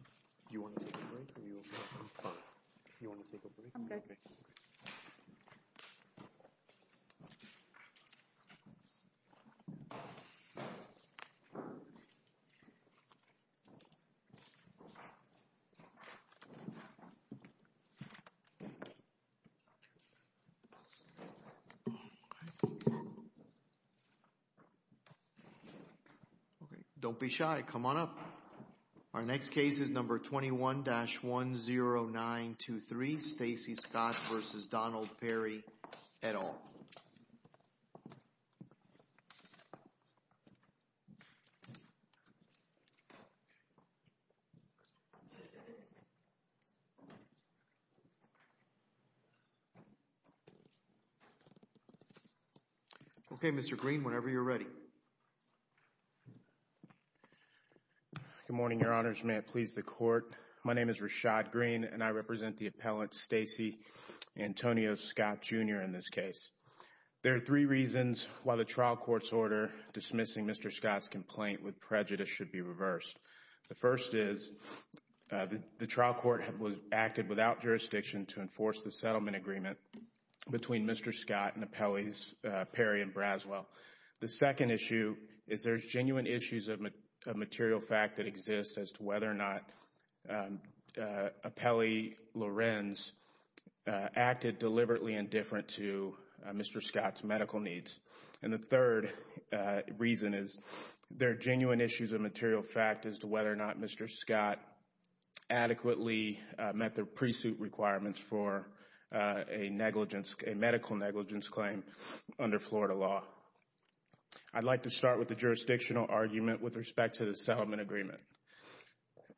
Do you want to take a break, or are you okay? I'm fine. Do you want to take a break? I'm good. Don't be shy. Come on up. Our next case is number 21-10923, Stacey Scott v. Donald Perry, et al. Okay, Mr. Green, whenever you're ready. Good morning, Your Honors. May it please the Court, my name is Rashad Green, and I represent the appellant Stacey Antonio Scott, Jr. in this case. There are three reasons why the trial court's order dismissing Mr. Scott's complaint with prejudice should be reversed. The first is the trial court acted without jurisdiction to enforce the settlement agreement between Mr. Scott and appellees Perry and Braswell. The second issue is there's genuine issues of material fact that exist as to whether or not appellee Lorenz acted deliberately indifferent to Mr. Scott's medical needs. And the third reason is there are genuine issues of material fact as to whether or not Mr. Scott adequately met the pre-suit requirements for a medical negligence claim under Florida law. I'd like to start with the jurisdictional argument with respect to the settlement agreement.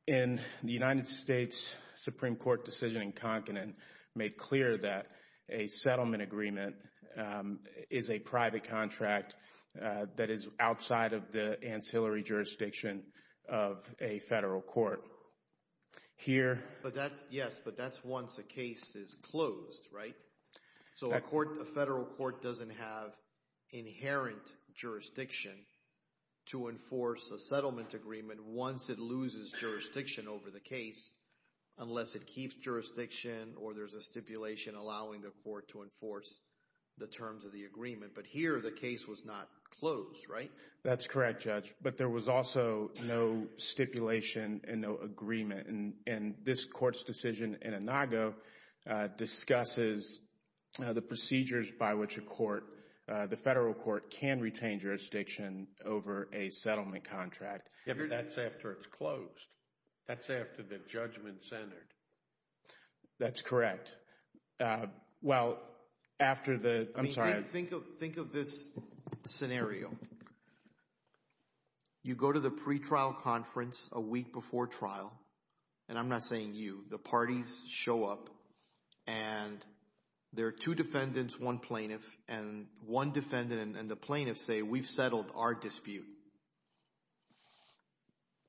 In the United States Supreme Court decision in Conklin made clear that a settlement agreement is a private contract that is outside of the ancillary jurisdiction of a federal court. Yes, but that's once a case is closed, right? So a federal court doesn't have inherent jurisdiction to enforce a settlement agreement once it loses jurisdiction over the case, unless it keeps jurisdiction or there's a stipulation allowing the court to enforce the terms of the agreement. But here the case was not closed, right? That's correct, Judge. But there was also no stipulation and no agreement. And this court's decision in Inago discusses the procedures by which a court, the federal court, can retain jurisdiction over a settlement contract. That's after it's closed. That's after the judgment centered. That's correct. Well, after the – I'm sorry. Think of this scenario. You go to the pretrial conference a week before trial, and I'm not saying you. The parties show up, and there are two defendants, one plaintiff. And one defendant and the plaintiff say, we've settled our dispute.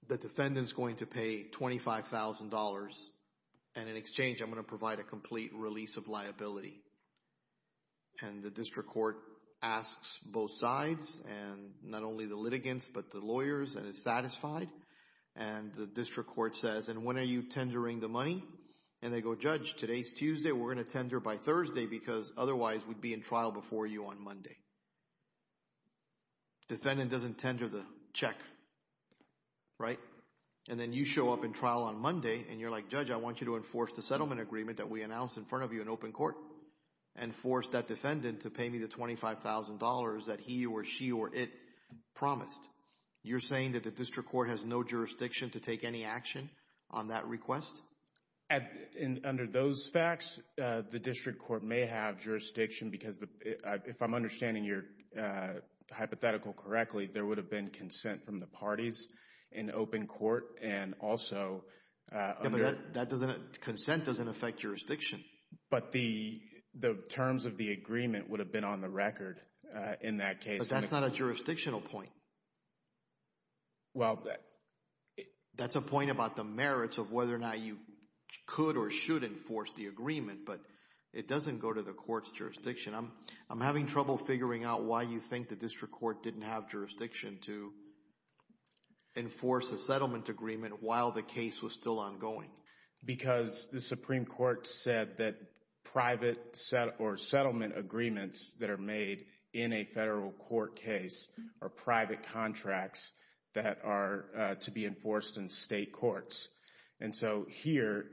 The defendant's going to pay $25,000, and in exchange I'm going to provide a complete release of liability. And the district court asks both sides and not only the litigants but the lawyers and is satisfied. And the district court says, and when are you tendering the money? And they go, Judge, today's Tuesday. We're going to tender by Thursday because otherwise we'd be in trial before you on Monday. Defendant doesn't tender the check, right? And then you show up in trial on Monday, and you're like, Judge, I want you to enforce the settlement agreement that we announced in front of you in open court and force that defendant to pay me the $25,000 that he or she or it promised. You're saying that the district court has no jurisdiction to take any action on that request? Under those facts, the district court may have jurisdiction because if I'm understanding your hypothetical correctly, there would have been consent from the parties in open court and also under. Consent doesn't affect jurisdiction. But the terms of the agreement would have been on the record in that case. But that's not a jurisdictional point. Well, that's a point about the merits of whether or not you could or should enforce the agreement. But it doesn't go to the court's jurisdiction. I'm having trouble figuring out why you think the district court didn't have jurisdiction to enforce a settlement agreement while the case was still ongoing. Because the Supreme Court said that private or settlement agreements that are made in a federal court case are private contracts that are to be enforced in state courts. And so here,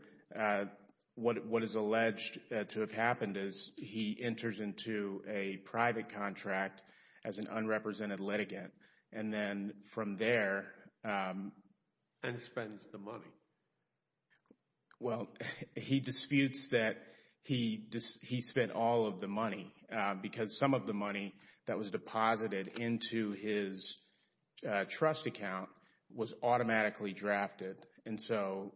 what is alleged to have happened is he enters into a private contract as an unrepresented litigant. And then from there. And spends the money. Well, he disputes that he spent all of the money because some of the money that was deposited into his trust account was automatically drafted. And so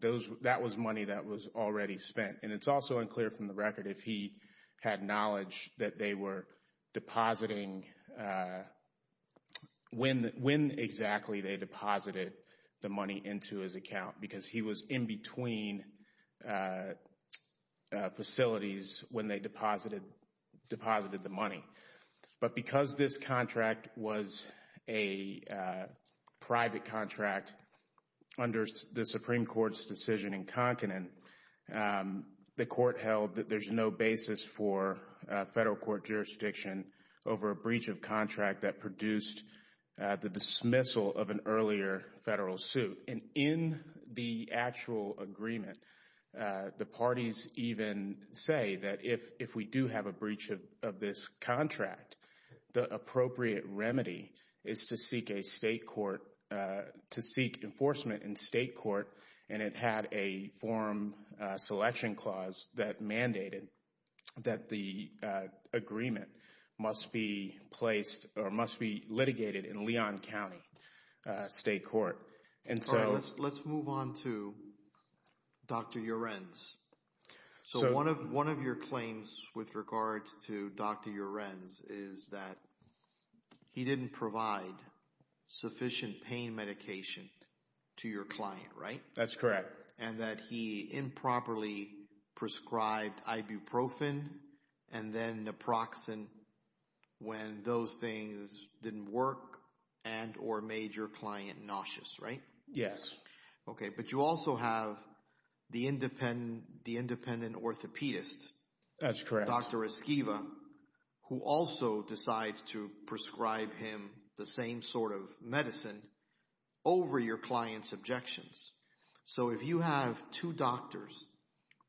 that was money that was already spent. And it's also unclear from the record if he had knowledge that they were depositing when exactly they deposited the money into his account. Because he was in between facilities when they deposited the money. But because this contract was a private contract under the Supreme Court's decision in Conklin, the court held that there's no basis for federal court jurisdiction over a breach of contract that produced the dismissal of an earlier federal suit. And in the actual agreement, the parties even say that if we do have a breach of this contract, the appropriate remedy is to seek enforcement in state court. And it had a forum selection clause that mandated that the agreement must be placed or must be litigated in Leon County State Court. Let's move on to Dr. Urenz. So one of your claims with regards to Dr. Urenz is that he didn't provide sufficient pain medication to your client, right? That's correct. And that he improperly prescribed ibuprofen and then naproxen when those things didn't work and or made your client nauseous, right? Yes. Okay, but you also have the independent orthopedist. That's correct. Dr. Esquiva, who also decides to prescribe him the same sort of medicine over your client's objections. So if you have two doctors,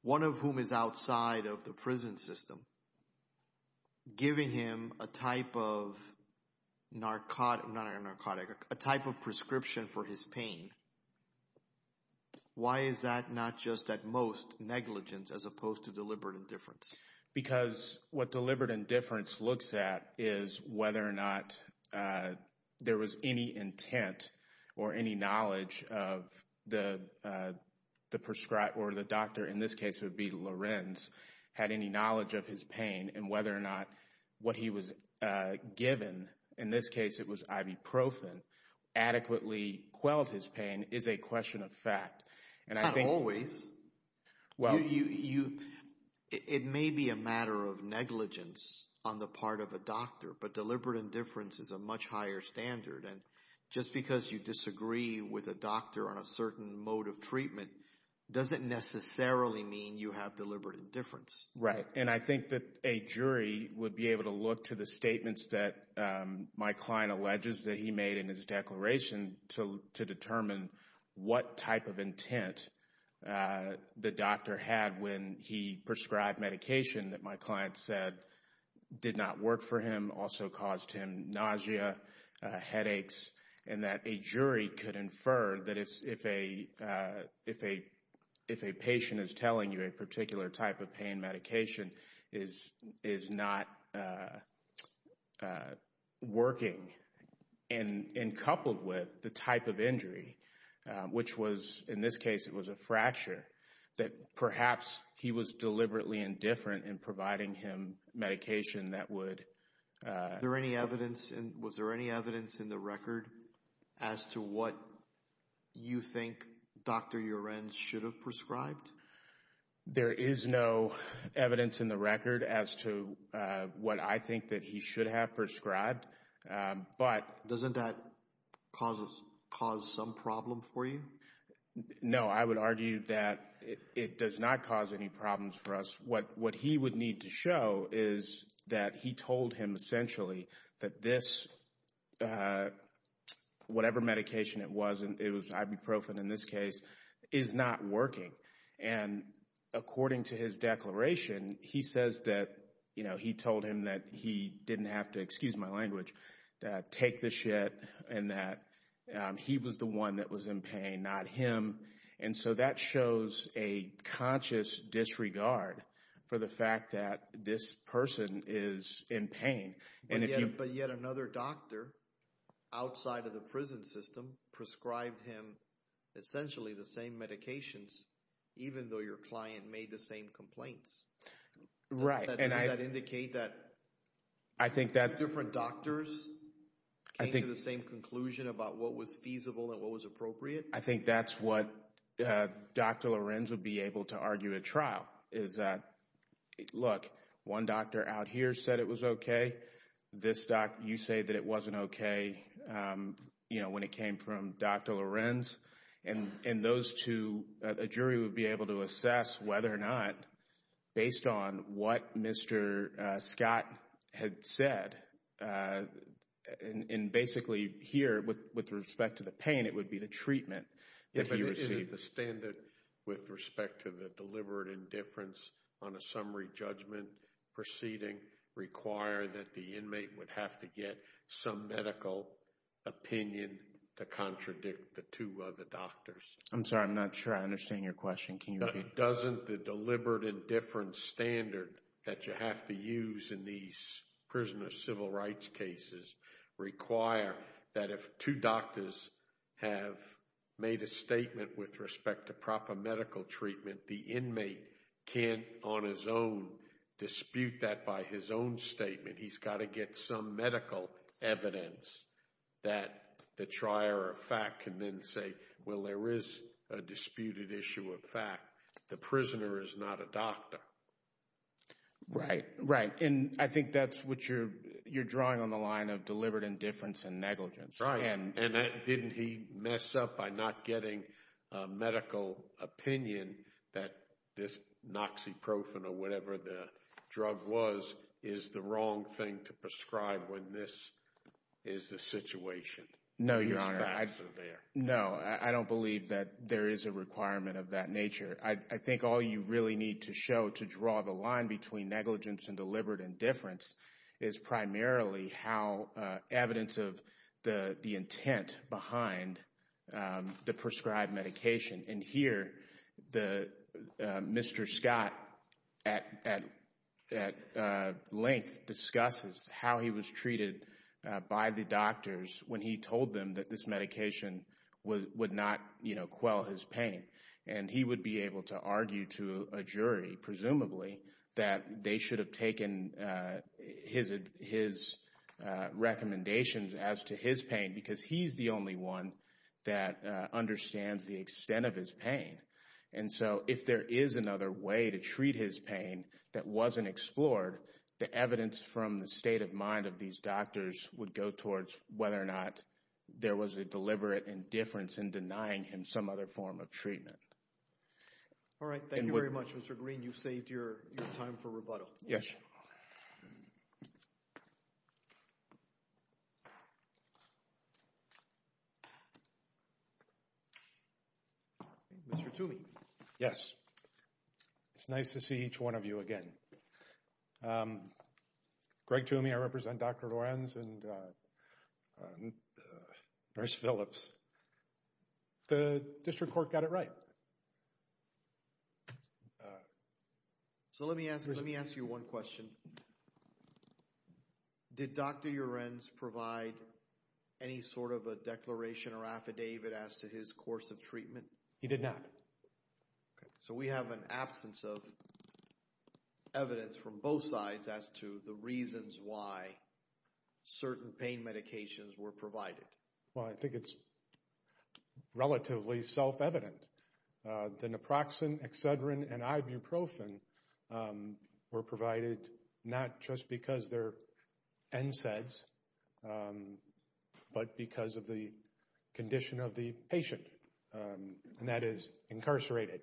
one of whom is outside of the prison system, giving him a type of prescription for his pain, why is that not just at most negligence as opposed to deliberate indifference? Because what deliberate indifference looks at is whether or not there was any intent or any knowledge of the doctor, in this case it would be Lorenz, had any knowledge of his pain. And whether or not what he was given, in this case it was ibuprofen, adequately quelled his pain is a question of fact. Not always. It may be a matter of negligence on the part of a doctor, but deliberate indifference is a much higher standard. And just because you disagree with a doctor on a certain mode of treatment doesn't necessarily mean you have deliberate indifference. Right. And I think that a jury would be able to look to the statements that my client alleges that he made in his declaration to determine what type of intent the doctor had when he prescribed medication that my client said did not work for him, also caused him nausea, headaches. And that a jury could infer that if a patient is telling you a particular type of pain medication is not working and coupled with the type of injury, which was in this case it was a fracture, that perhaps he was deliberately indifferent in providing him medication that would... Was there any evidence in the record as to what you think Dr. Lorenz should have prescribed? There is no evidence in the record as to what I think that he should have prescribed, but... Doesn't that cause some problem for you? No, I would argue that it does not cause any problems for us. What he would need to show is that he told him essentially that this, whatever medication it was, and it was ibuprofen in this case, is not working. And according to his declaration, he says that he told him that he didn't have to, excuse my language, take the shit and that he was the one that was in pain, not him. And so that shows a conscious disregard for the fact that this person is in pain. But yet another doctor outside of the prison system prescribed him essentially the same medications even though your client made the same complaints. Right. Doesn't that indicate that two different doctors came to the same conclusion about what was feasible and what was appropriate? I think that's what Dr. Lorenz would be able to argue at trial is that, look, one doctor out here said it was okay. This doctor, you say that it wasn't okay, you know, when it came from Dr. Lorenz. And those two, a jury would be able to assess whether or not, based on what Mr. Scott had said, and basically here with respect to the pain, it would be the treatment that he received. The standard with respect to the deliberate indifference on a summary judgment proceeding required that the inmate would have to get some medical opinion to contradict the two other doctors. I'm sorry, I'm not sure I understand your question. Can you repeat? But doesn't the deliberate indifference standard that you have to use in these prisoner civil rights cases require that if two doctors have made a statement with respect to proper medical treatment, the inmate can't on his own dispute that by his own statement. He's got to get some medical evidence that the trier of fact can then say, well, there is a disputed issue of fact. The prisoner is not a doctor. Right, right. And I think that's what you're drawing on the line of deliberate indifference and negligence. Right. And didn't he mess up by not getting medical opinion that this noxiprofen or whatever the drug was, is the wrong thing to prescribe when this is the situation? No, Your Honor. No, I don't believe that there is a requirement of that nature. I think all you really need to show to draw the line between negligence and deliberate indifference is primarily how evidence of the intent behind the prescribed medication. And here, Mr. Scott at length discusses how he was treated by the doctors when he told them that this medication would not, you know, quell his pain. And he would be able to argue to a jury, presumably, that they should have taken his recommendations as to his pain because he's the only one that understands the extent of his pain. And so if there is another way to treat his pain that wasn't explored, the evidence from the state of mind of these doctors would go towards whether or not there was a deliberate indifference in denying him some other form of treatment. All right. Thank you very much, Mr. Green. You've saved your time for rebuttal. Yes. Mr. Toomey. Yes. It's nice to see each one of you again. Greg Toomey, I represent Dr. Lorenz and Nurse Phillips. The district court got it right. So let me ask you one question. Did Dr. Lorenz provide any sort of a declaration or affidavit as to his course of treatment? He did not. So we have an absence of evidence from both sides as to the reasons why certain pain medications were provided. Well, I think it's relatively self-evident. The naproxen, excedrin, and ibuprofen were provided not just because they're NSAIDs, but because of the condition of the patient. And that is incarcerated.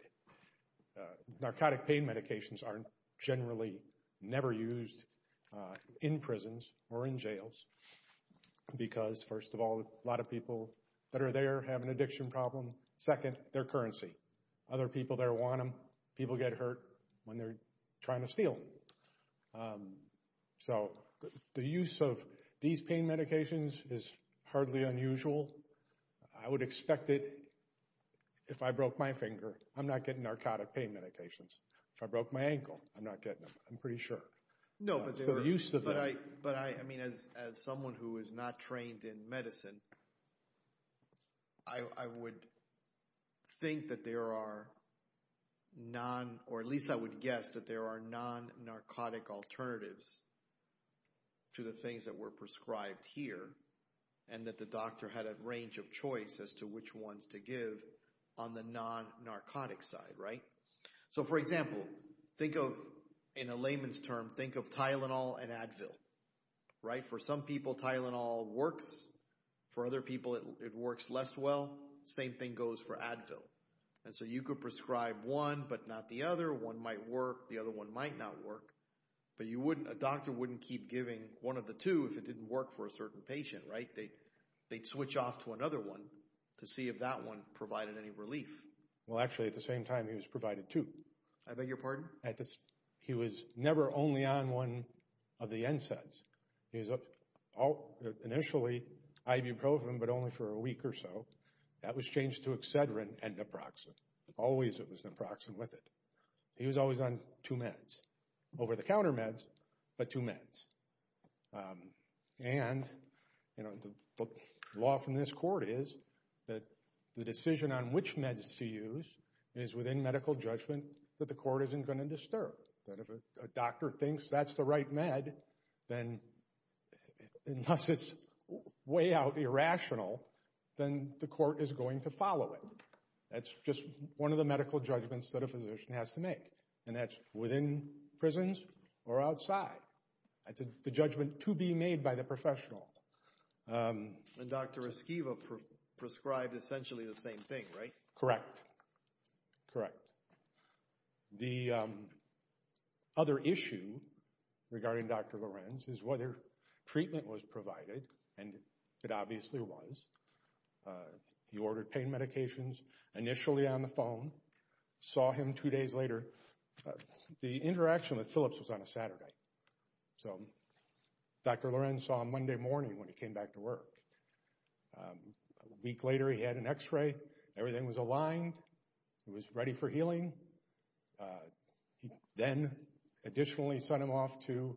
Narcotic pain medications are generally never used in prisons or in jails because, first of all, a lot of people that are there have an addiction problem. Second, their currency. Other people there want them. People get hurt when they're trying to steal them. So the use of these pain medications is hardly unusual. I would expect it if I broke my finger. I'm not getting narcotic pain medications. If I broke my ankle, I'm not getting them. I'm pretty sure. No, but I mean, as someone who is not trained in medicine, I would think that there are non- or at least I would guess that there are non-narcotic alternatives to the things that were prescribed here and that the doctor had a range of choice as to which ones to give on the non-narcotic side, right? So, for example, think of, in a layman's term, think of Tylenol and Advil, right? For some people, Tylenol works. For other people, it works less well. Same thing goes for Advil. And so you could prescribe one but not the other. One might work. The other one might not work. But a doctor wouldn't keep giving one of the two if it didn't work for a certain patient, right? They'd switch off to another one to see if that one provided any relief. Well, actually, at the same time, he was provided two. I beg your pardon? is within medical judgment that the court isn't going to disturb. That if a doctor thinks that's the right med, then unless it's way out irrational, then the court is going to follow it. That's just one of the medical judgments that a physician has to make. And that's within prisons or outside. That's the judgment to be made by the professional. And Dr. Esquiva prescribed essentially the same thing, right? A week later, he had an x-ray. Everything was aligned. He was ready for healing. He then additionally sent him off to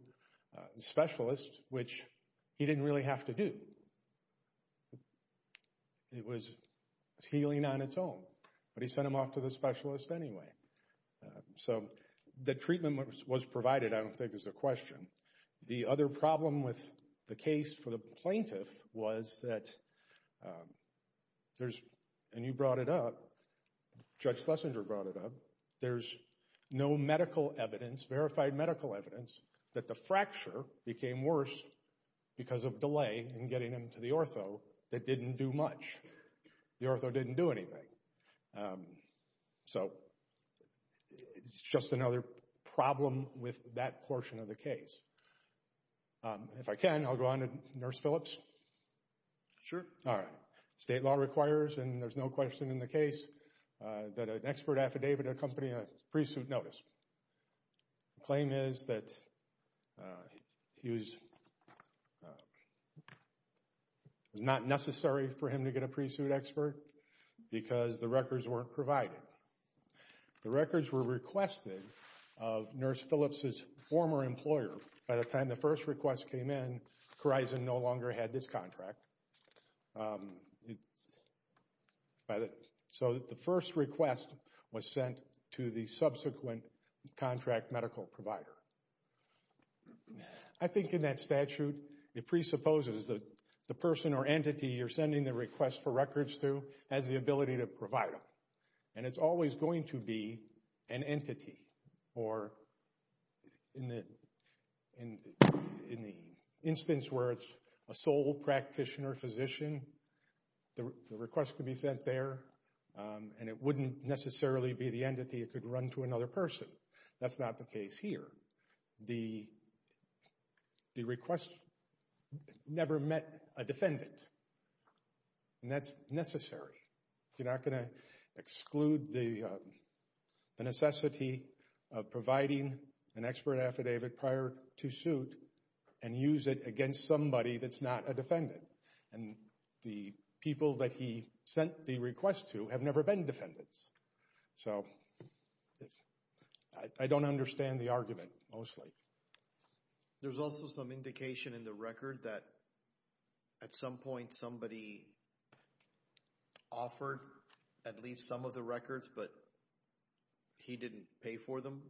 the specialist, which he didn't really have to do. It was healing on its own. But he sent him off to the specialist anyway. So the treatment was provided, I don't think, is the question. The other problem with the case for the plaintiff was that there's, and you brought it up, Judge Schlesinger brought it up, there's no medical evidence, verified medical evidence, that the fracture became worse because of delay in getting him to the ortho that didn't do much. The ortho didn't do anything. So it's just another problem with that portion of the case. If I can, I'll go on to Nurse Phillips. Sure. All right. State law requires, and there's no question in the case, that an expert affidavit accompany a pre-suit notice. The claim is that it was not necessary for him to get a pre-suit expert because the records weren't provided. The records were requested of Nurse Phillips' former employer. By the time the first request came in, Corizon no longer had this contract. So the first request was sent to the subsequent contract medical provider. I think in that statute, it presupposes that the person or entity you're sending the request for records to has the ability to provide them. And it's always going to be an entity or in the instance where it's a sole practitioner, physician, the request could be sent there and it wouldn't necessarily be the entity. It could run to another person. That's not the case here. The request never met a defendant, and that's necessary. You're not going to exclude the necessity of providing an expert affidavit prior to suit and use it against somebody that's not a defendant. And the people that he sent the request to have never been defendants. So I don't understand the argument, mostly. There's also some indication in the record that at some point somebody offered at least some of the records, but he didn't pay for them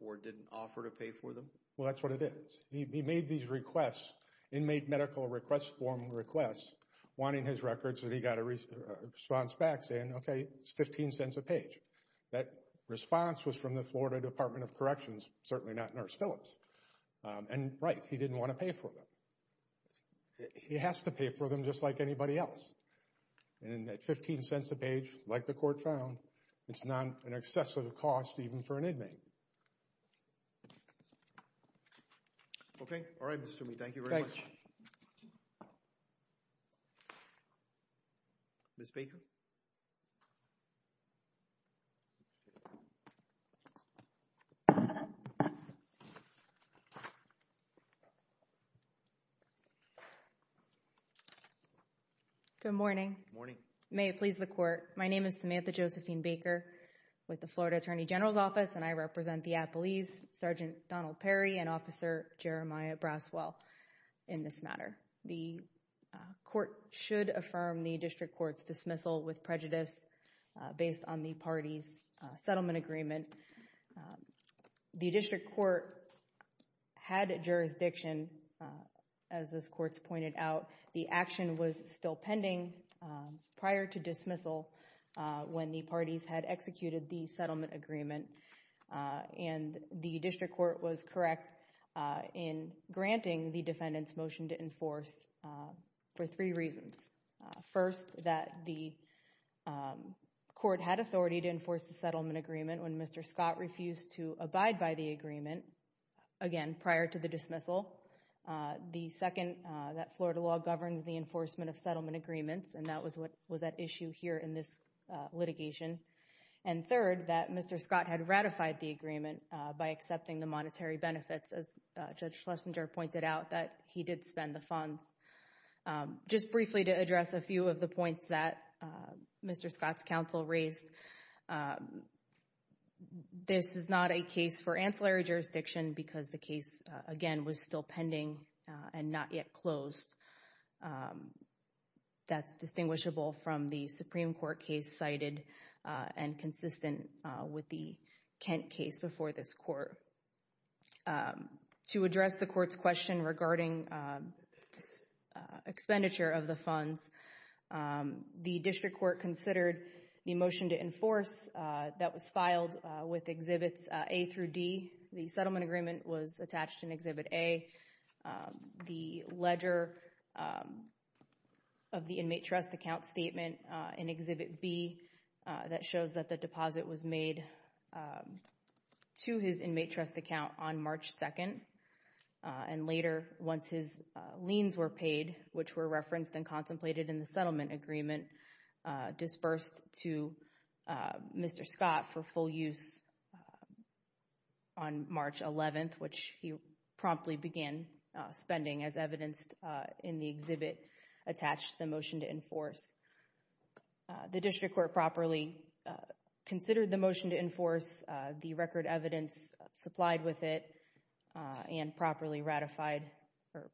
or didn't offer to pay for them? Well, that's what it is. He made these requests, inmate medical request form requests, wanting his records, and he got a response back saying, okay, it's 15 cents a page. That response was from the Florida Department of Corrections, certainly not Nurse Phillips. And right, he didn't want to pay for them. He has to pay for them just like anybody else. And at 15 cents a page, like the court found, it's not an excessive cost even for an inmate. Okay. All right, Mr. Mead. Thank you very much. Ms. Baker? Good morning. May it please the court. My name is Samantha Josephine Baker with the Florida Attorney General's Office, and I represent the Appalese Sergeant Donald Perry and Officer Jeremiah Braswell in this matter. The court should affirm the district court's dismissal with prejudice based on the parties' settlement agreement. The district court had jurisdiction, as this court's pointed out. The action was still pending prior to dismissal when the parties had executed the settlement agreement, and the district court was correct in granting the defendant's motion to enforce for three reasons. First, that the court had authority to enforce the settlement agreement when Mr. Scott refused to abide by the agreement, again, prior to the dismissal. The second, that Florida law governs the enforcement of settlement agreements, and that was at issue here in this litigation. And third, that Mr. Scott had ratified the agreement by accepting the monetary benefits, as Judge Schlesinger pointed out, that he did spend the funds. Just briefly to address a few of the points that Mr. Scott's counsel raised, this is not a case for ancillary jurisdiction because the case, again, was still pending and not yet closed. That's distinguishable from the Supreme Court case cited and consistent with the Kent case before this court. To address the court's question regarding expenditure of the funds, the district court considered the motion to enforce that was filed with Exhibits A through D. The settlement agreement was attached in Exhibit A. The ledger of the inmate trust account statement in Exhibit B that shows that the deposit was made to his inmate trust account on March 2nd. And later, once his liens were paid, which were referenced and contemplated in the settlement agreement, dispersed to Mr. Scott for full use on March 11th, which he promptly began spending, as evidenced in the exhibit attached to the motion to enforce. The district court properly considered the motion to enforce, the record evidence supplied with it, and properly ratified or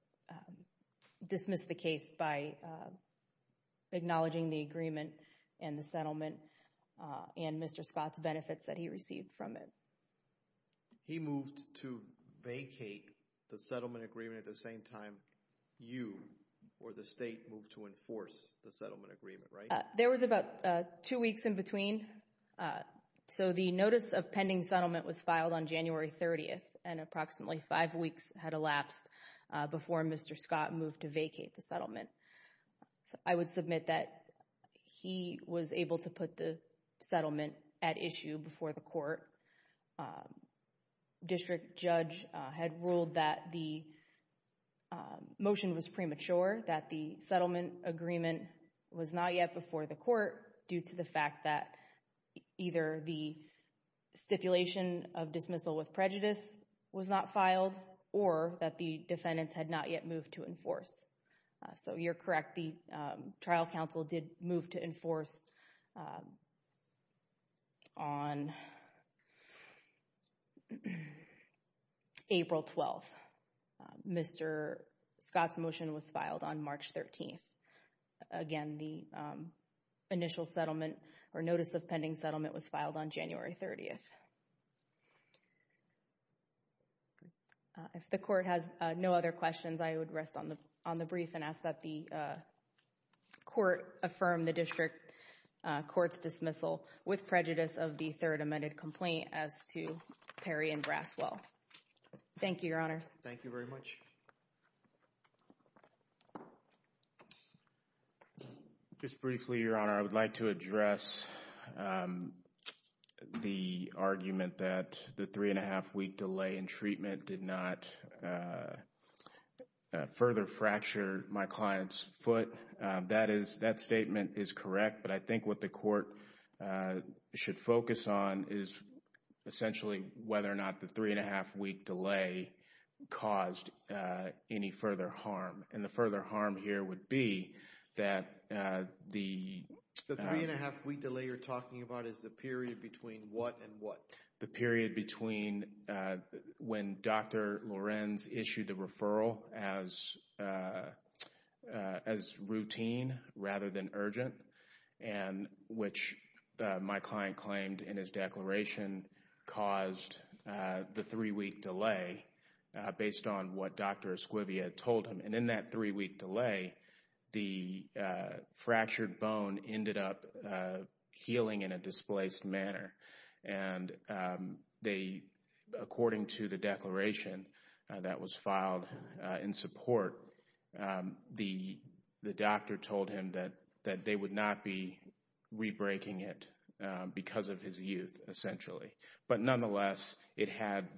dismissed the case by acknowledging the agreement and the settlement and Mr. Scott's benefits that he received from it. He moved to vacate the settlement agreement at the same time you or the state moved to enforce the settlement agreement, right? There was about two weeks in between. So the notice of pending settlement was filed on January 30th and approximately five weeks had elapsed before Mr. Scott moved to vacate the settlement. I would submit that he was able to put the settlement at issue before the court. District judge had ruled that the motion was premature, that the settlement agreement was not yet before the court due to the fact that either the stipulation of dismissal with prejudice was not filed or that the defendants had not yet moved to enforce. So you're correct, the trial counsel did move to enforce on April 12th. Mr. Scott's motion was filed on March 13th. Again, the initial settlement or notice of pending settlement was filed on January 30th. If the court has no other questions, I would rest on the on the brief and ask that the court affirm the district court's dismissal with prejudice of the third amended complaint as to Perry and Braswell. Thank you, Your Honor. Thank you very much. Just briefly, Your Honor, I would like to address the argument that the three and a half week delay in treatment did not further fracture my client's foot. That statement is correct, but I think what the court should focus on is essentially whether or not the three and a half week delay caused any further harm. And the further harm here would be that the three and a half week delay you're talking about is the period between what and what? The period between when Dr. Lorenz issued the referral as routine rather than urgent and which my client claimed in his declaration caused the three week delay based on what Dr. Esquivia told him. And in that three week delay, the fractured bone ended up healing in a displaced manner. And they, according to the declaration that was filed in support, the doctor told him that they would not be rebreaking it because of his youth, essentially. But nonetheless, it had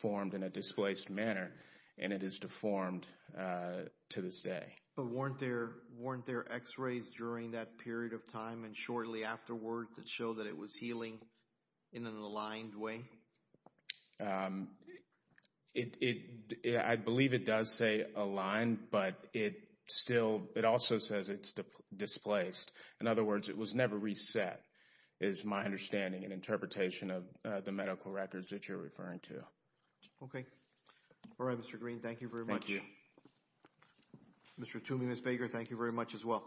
formed in a displaced manner and it is deformed to this day. But weren't there X-rays during that period of time and shortly afterwards that show that it was healing in an aligned way? I believe it does say aligned, but it also says it's displaced. In other words, it was never reset is my understanding and interpretation of the medical records that you're referring to. Okay. All right, Mr. Green. Thank you very much. Thank you. Mr. Toomey, Ms. Baker, thank you very much as well.